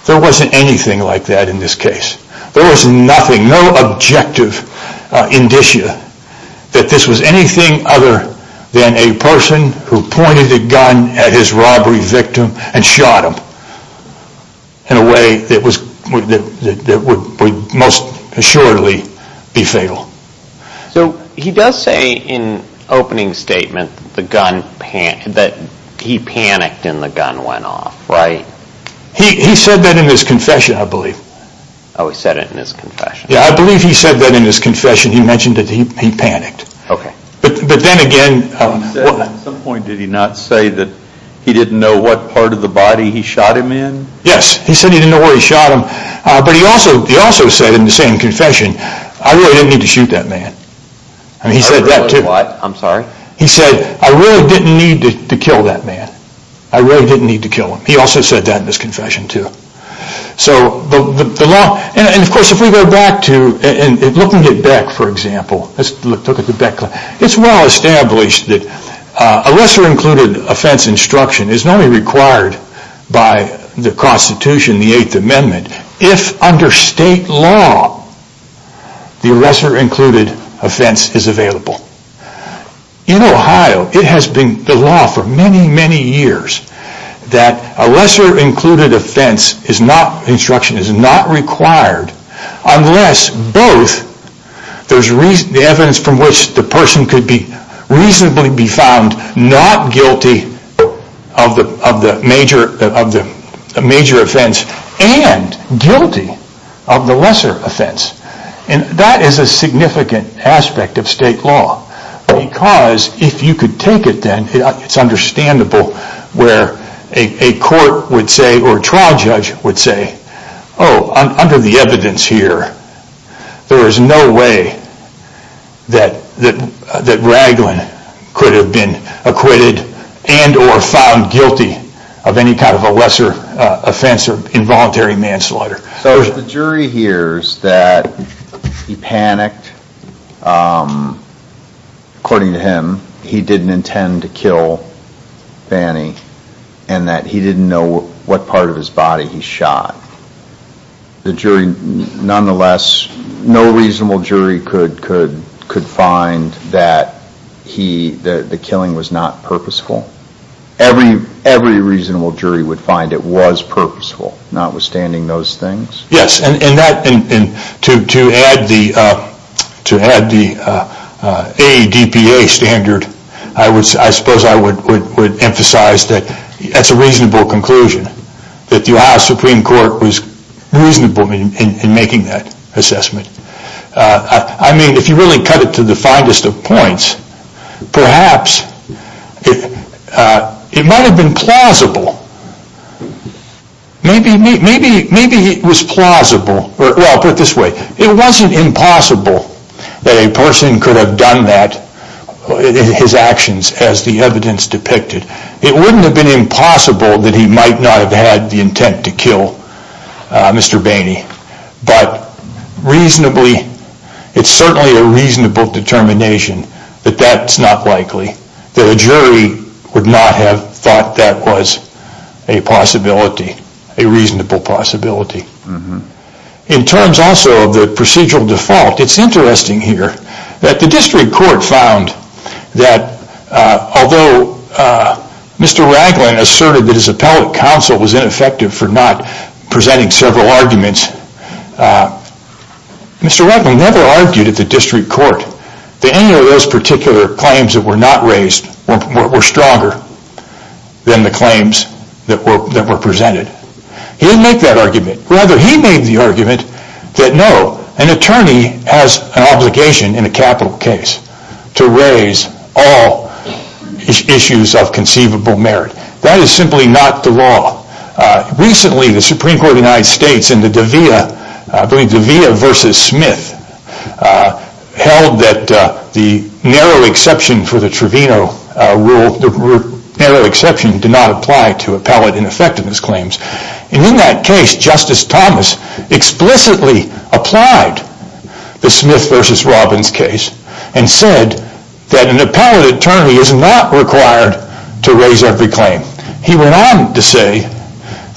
there wasn't anything like that in this case. There was nothing, no objective indicia that this was anything other than a person who pointed a gun at his robbery victim and shot him in a way that would most assuredly be fatal. So he does say in opening statement that he panicked and the gun went off, right? Oh, he said it in his confession. Yeah, I believe he said that in his confession. He mentioned that he panicked. But then again... At some point did he not say that he didn't know what part of the body he shot him in? Yes, he said he didn't know where he shot him. But he also said in the same confession, I really didn't need to shoot that man. I'm sorry? He said, I really didn't need to kill that man. I really didn't need to kill him. He also said that in his confession, too. So, the law... And of course, if we go back to... Look at Beck, for example. Let's look at the Beck claim. It's well established that arrester-included offense instruction is normally required by the Constitution, the Eighth Amendment, if under state law, the arrester-included offense is available. In Ohio, it has been the law for many, many years that arrester-included offense instruction is not required unless both the evidence from which the person could reasonably be found not guilty of the major offense and guilty of the lesser offense. And that is a significant aspect of state law. Because if you could take it then, it's understandable where a court would say, or a trial judge would say, oh, under the evidence here, there is no way that Raglin could have been acquitted and or found guilty of any kind of a lesser offense or involuntary manslaughter. So, if the jury hears that he panicked, that, according to him, he didn't intend to kill Fannie and that he didn't know what part of his body he shot, the jury, nonetheless, no reasonable jury could find that the killing was not purposeful. Every reasonable jury would find it was purposeful, notwithstanding those things? Yes, and to add the ADPA standard, I suppose I would emphasize that that's a reasonable conclusion, that the Ohio Supreme Court was reasonable in making that assessment. I mean, if you really cut it to the finest of points, perhaps it might have been plausible. Maybe it was plausible. Well, I'll put it this way. It wasn't impossible that a person could have done that, his actions, as the evidence depicted. It wouldn't have been impossible that he might not have had the intent to kill Mr. Bainey. But it's certainly a reasonable determination that that's not likely, that a jury would not have thought that was a possibility, a reasonable possibility. In terms also of the procedural default, it's interesting here that the district court found that although Mr. Raglin asserted that his appellate counsel was ineffective for not presenting several arguments, Mr. Raglin never argued at the district court that any of those particular claims that were not raised were stronger than the claims that were presented. He didn't make that argument. Rather, he made the argument that no, an attorney has an obligation in a capital case to raise all issues of conceivable merit. That is simply not the law. Recently, the Supreme Court of the United States in the De'Vea versus Smith held that the narrow exception for the Trevino rule, the narrow exception did not apply to appellate ineffectiveness claims. And in that case, Justice Thomas explicitly applied the Smith versus Robbins case and said that an appellate attorney is not required to raise every claim. He went on to say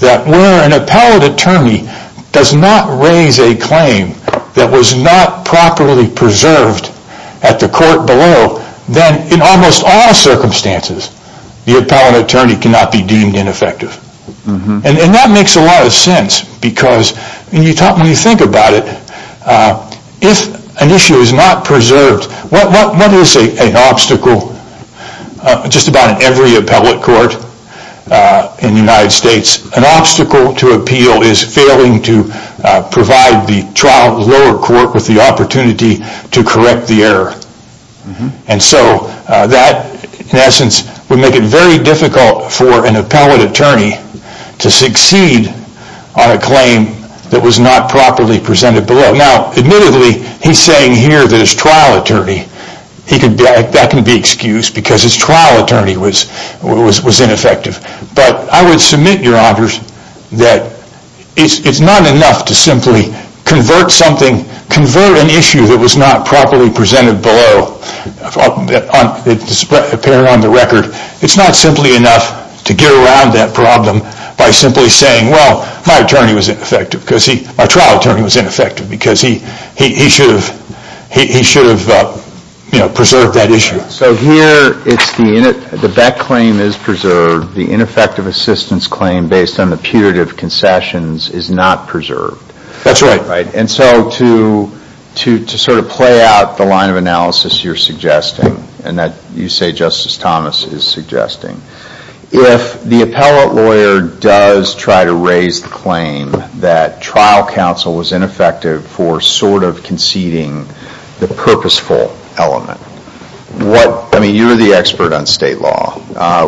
that where an appellate attorney does not raise a claim that was not properly preserved at the court below, then in almost all circumstances, the appellate attorney cannot be deemed ineffective. And that makes a lot of sense, because when you think about it, if an issue is not preserved, what is an obstacle? Just about in every appellate court in the United States, an obstacle to appeal is failing to provide the trial lower court with the opportunity to correct the error. And so that, in essence, would make it very difficult for an appellate attorney to succeed on a claim that was not properly presented below. Now, admittedly, he's saying here that his trial attorney, that can be excused, because his trial attorney was ineffective. But I would submit, Your Honors, that it's not enough to simply convert something, convert an issue that was not properly presented below. It's apparent on the record, it's not simply enough to get around that problem by simply saying, well, my trial attorney was ineffective, because he should have preserved that issue. So here, the Beck claim is preserved. The ineffective assistance claim based on the putative concessions is not preserved. That's right. And so to sort of play out the line of analysis you're suggesting, and that you say Justice Thomas is suggesting, if the appellate lawyer does try to raise the claim that trial counsel was ineffective for sort of conceding the purposeful element, I mean, you're the expert on state law.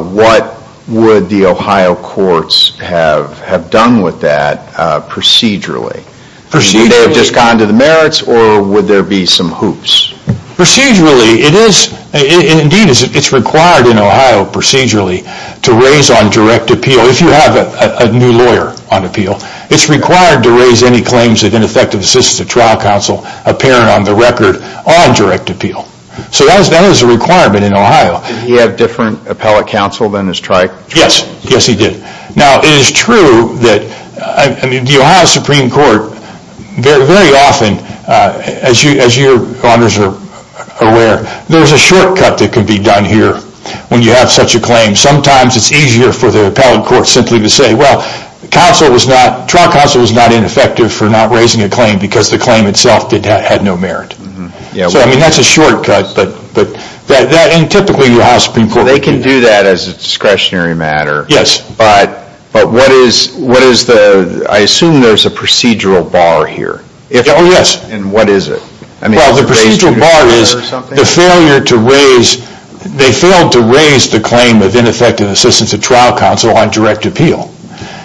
What would the Ohio courts have done with that procedurally? Procedurally? Would they have just gone to the merits, or would there be some hoops? Procedurally, it is. Indeed, it's required in Ohio procedurally to raise on direct appeal. If you have a new lawyer on appeal, it's required to raise any claims that ineffective assistance of trial counsel apparent on the record on direct appeal. So that is a requirement in Ohio. Did he have different appellate counsel than his trial counsel? Yes, he did. Now, it is true that the Ohio Supreme Court very often, as your honors are aware, there is a shortcut that can be done here when you have such a claim. Sometimes it's easier for the appellate court simply to say, well, trial counsel was not ineffective for not raising a claim because the claim itself had no merit. So I mean, that's a shortcut. And typically, the Ohio Supreme Court... So they can do that as a discretionary matter. Yes. But what is the... I assume there's a procedural bar here. Oh, yes. And what is it? Well, the procedural bar is the failure to raise... They failed to raise the claim of ineffective assistance of trial counsel on direct appeal.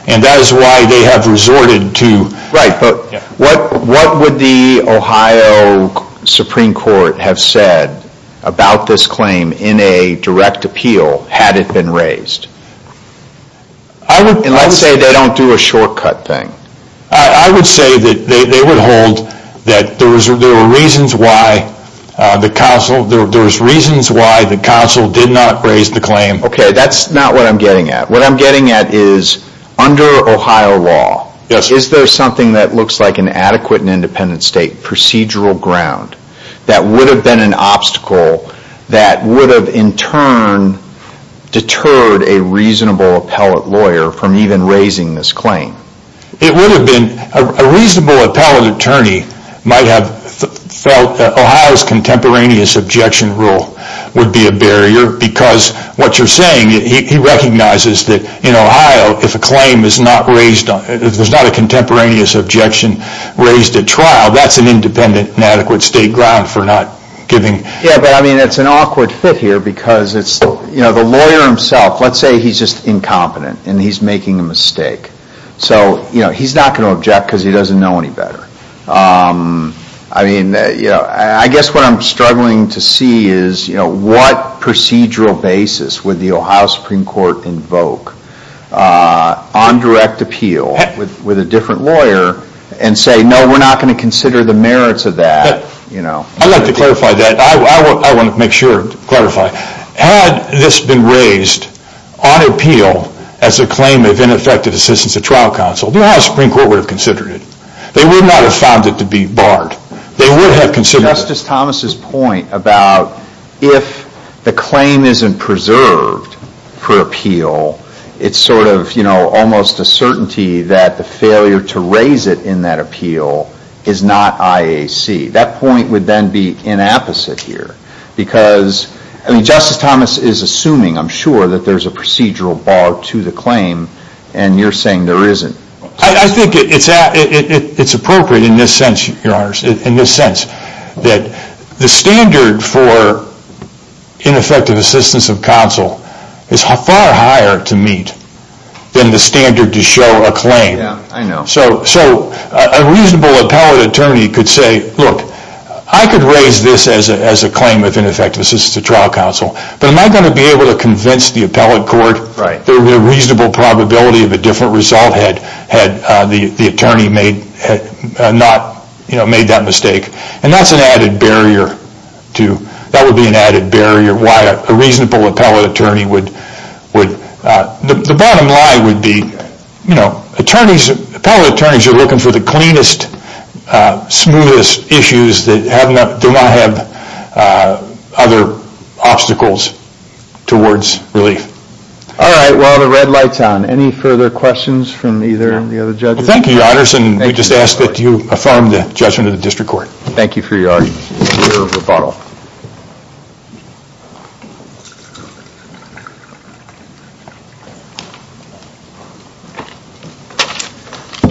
And that is why they have resorted to... Right, but what would the Ohio Supreme Court have said about this claim in a direct appeal had it been raised? I would... And let's say they don't do a shortcut thing. I would say that they would hold that there were reasons why the counsel... There were reasons why the counsel did not raise the claim. Okay, that's not what I'm getting at. What I'm getting at is, under Ohio law, is there something that looks like an adequate and independent state procedural ground that would have been an obstacle that would have, in turn, deterred a reasonable appellate lawyer from even raising this claim? It would have been... A reasonable appellate attorney might have felt that Ohio's contemporaneous objection rule would be a barrier because what you're saying, he recognizes that in Ohio, if a claim is not raised... If there's not a contemporaneous objection raised at trial, that's an independent and adequate state ground for not giving... Yeah, but it's an awkward fit here because the lawyer himself... Let's say he's just incompetent and he's making a mistake. He's not going to object because he doesn't know any better. I guess what I'm struggling to see is what procedural basis would the Ohio Supreme Court invoke on direct appeal with a different lawyer and say, no, we're not going to consider the merits of that? I'd like to clarify that. I want to make sure to clarify. Had this been raised on appeal as a claim of ineffective assistance at trial counsel, the Ohio Supreme Court would have considered it. They would not have found it to be barred. They would have considered it. Justice Thomas' point about if the claim isn't preserved for appeal, it's sort of almost a certainty that the failure to raise it in that appeal is not IAC. That point would then be inapposite here. Because, I mean, Justice Thomas is assuming, I'm sure, that there's a procedural bar to the claim and you're saying there isn't. I think it's appropriate in this sense, your honor, in this sense, that the standard for ineffective assistance of counsel is far higher to meet than the standard to show a claim. So, a reasonable appellate attorney could say, look, I could raise this as a claim of ineffective assistance to trial counsel, but am I going to be able to convince the appellate court the reasonable probability of a different result had the attorney not made that mistake. And that's an added barrier. That would be an added barrier why a reasonable appellate attorney would... The bottom line would be appellate attorneys are looking for the cleanest, smoothest issues that do not have other obstacles towards relief. Alright, well, the red light's on. Any further questions from either of the other judges? Thank you, your honor. We just ask that you affirm the judgment of the district court. Thank you for your ear of rebuttal.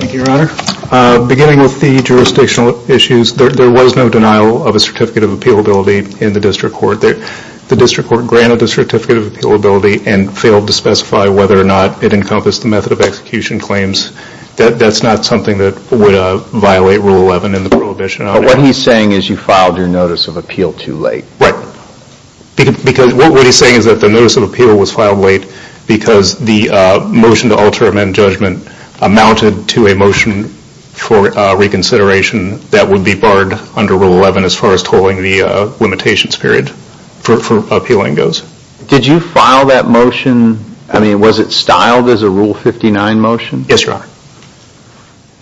Thank you, your honor. Beginning with the jurisdictional issues, there was no denial of a certificate of appealability in the district court. The district court granted a certificate of appealability and failed to specify whether or not it encompassed the method of execution claims. That's not something that would violate Rule 11 and the prohibition on it. But what he's saying is you filed your notice of appeal too late. Right. What he's saying is that the notice of appeal was filed late because the motion to alter amend judgment amounted to a motion for reconsideration that would be barred under Rule 11 as far as tolling the limitations period for appealing goes. Did you file that motion? I mean, was it styled as a Rule 59 motion? Yes, your honor.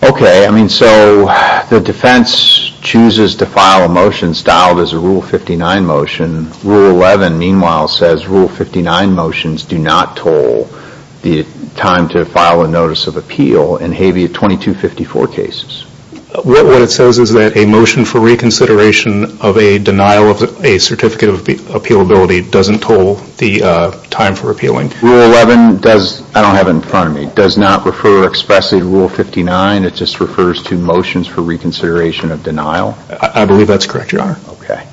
Okay, I mean, so the defense chooses to file a motion styled as a Rule 59 motion. Rule 11, meanwhile, says Rule 59 motions do not toll the time to file a notice of appeal in Habea 2254 cases. What it says is that a motion for reconsideration of a denial of a certificate of appealability doesn't toll the time for appealing. Rule 11 does not refer expressly to Rule 59. It just refers to motions for reconsideration of denial. I believe that's correct, your honor. Okay.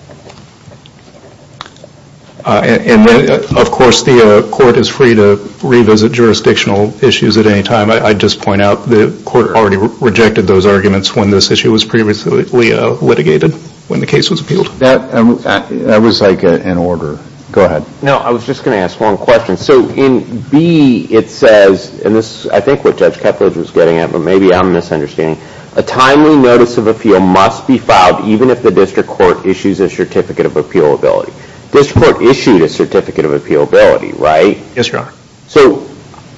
And then, of course, the court is free to revisit jurisdictional issues at any time. I'd just point out the court already rejected those arguments when this issue was previously litigated when the case was appealed. That was like an order. Go ahead. No, I was just going to ask one question. So, in B, it says and this, I think what Judge Kethledge was getting at, but maybe I'm misunderstanding. A timely notice of appeal must be filed even if the district court issues a certificate of appealability. District court issued a certificate of appealability, right? Yes, your honor. So,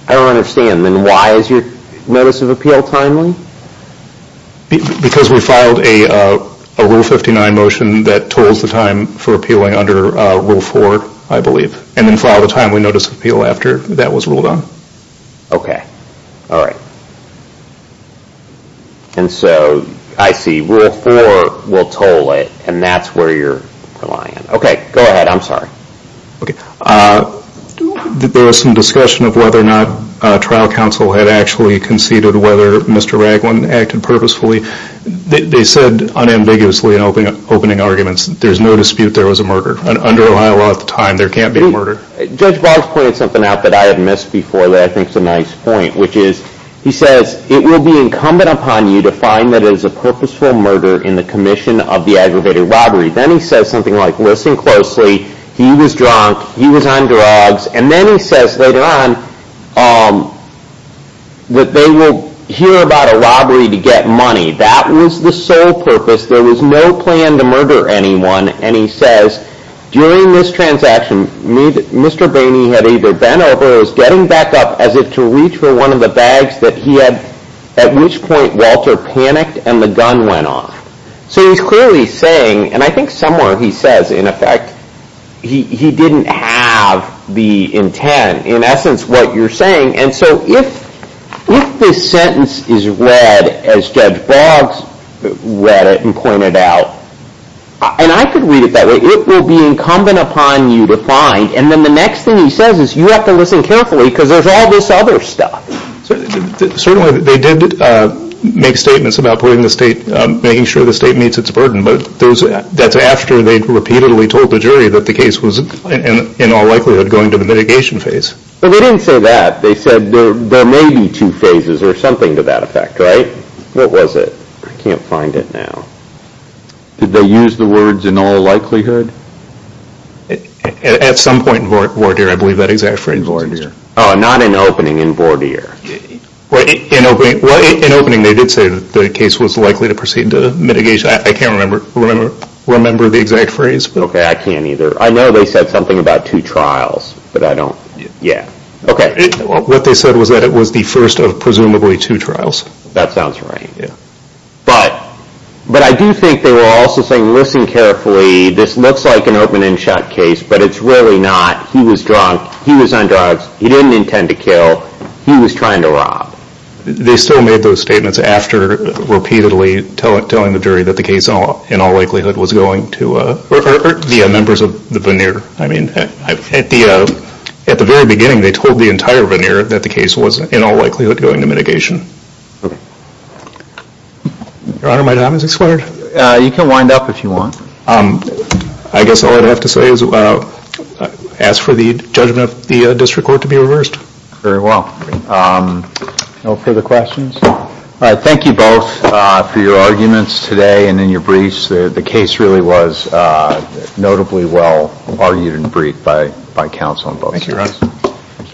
I don't understand. Then why is your notice of appeal timely? Because we filed a Rule 59 motion that tolls the time for appealing under Rule 4, I believe. And then filed a timely notice of appeal after that was ruled on. Okay. Alright. And so, I see. Rule 4 will toll it and that's where you're relying on. Okay. Go ahead. I'm sorry. Okay. There was some discussion of whether or not trial counsel had actually conceded whether Mr. Raglin acted purposefully. They said unambiguously in opening arguments there's no dispute there was a murder. Under Ohio law at the time, there can't be a murder. Judge Boggs pointed something out that I have missed before that I think is a nice point, which is he says it will be incumbent upon you to find that it is a purposeful murder in the commission of the aggravated robbery. Then he says something like, listen closely, he was drunk, he was on drugs, and then he says later on that they will hear about a robbery to get money. That was the sole purpose. There was no plan to murder anyone. And he says, during this transaction, Mr. Bainey had either been or was getting back up as if to reach for one of the bags at which point Walter panicked and the gun went off. So he's clearly saying, and I think somewhere he says in effect he didn't have the intent, in essence what you're saying, and so if this sentence is read as Judge Boggs read it and pointed out and I could read it that way it will be incumbent upon you to find, and then the next thing he says is you have to listen carefully because there's all this other stuff. Certainly they did make statements about putting the state, making sure the state meets its burden, but that's after they repeatedly told the jury that the case was in all likelihood going to the mitigation phase. But they didn't say that, they said there may be two phases or something to that effect, right? What was it? I can't find it now. Did they use the words in all likelihood? At some point in voir dire I believe that exact phrase. Oh, not in opening, in voir dire. In opening they did say that the case was likely to proceed to mitigation. I can't remember the exact phrase. Okay, I can't either. I know they said something about two trials, but I don't, yeah. Okay. What they said was that it was the first of presumably two trials. That sounds right. But I do think they were also saying listen carefully, this looks like an open and shut case, but it's really not. He was drunk, he was on drugs, he didn't intend to kill, he was trying to rob. They still made those statements after repeatedly telling the jury that the case in all likelihood was going to the members of the veneer. I mean, at the very beginning they told the entire veneer that the case was in all likelihood going to mitigation. Your honor, my time has expired. You can wind up if you want. I guess all I'd have to say is ask for the judgment of the district court to be reversed. Very well. No further questions? Alright, thank you both for your arguments today and in your briefs. The case really was notably well argued and briefed by counsel in both cases. Thank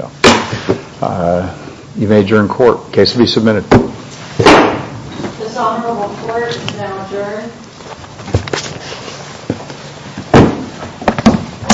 you. You may adjourn court. Case to be submitted. This honorable court is now adjourned. Thank you.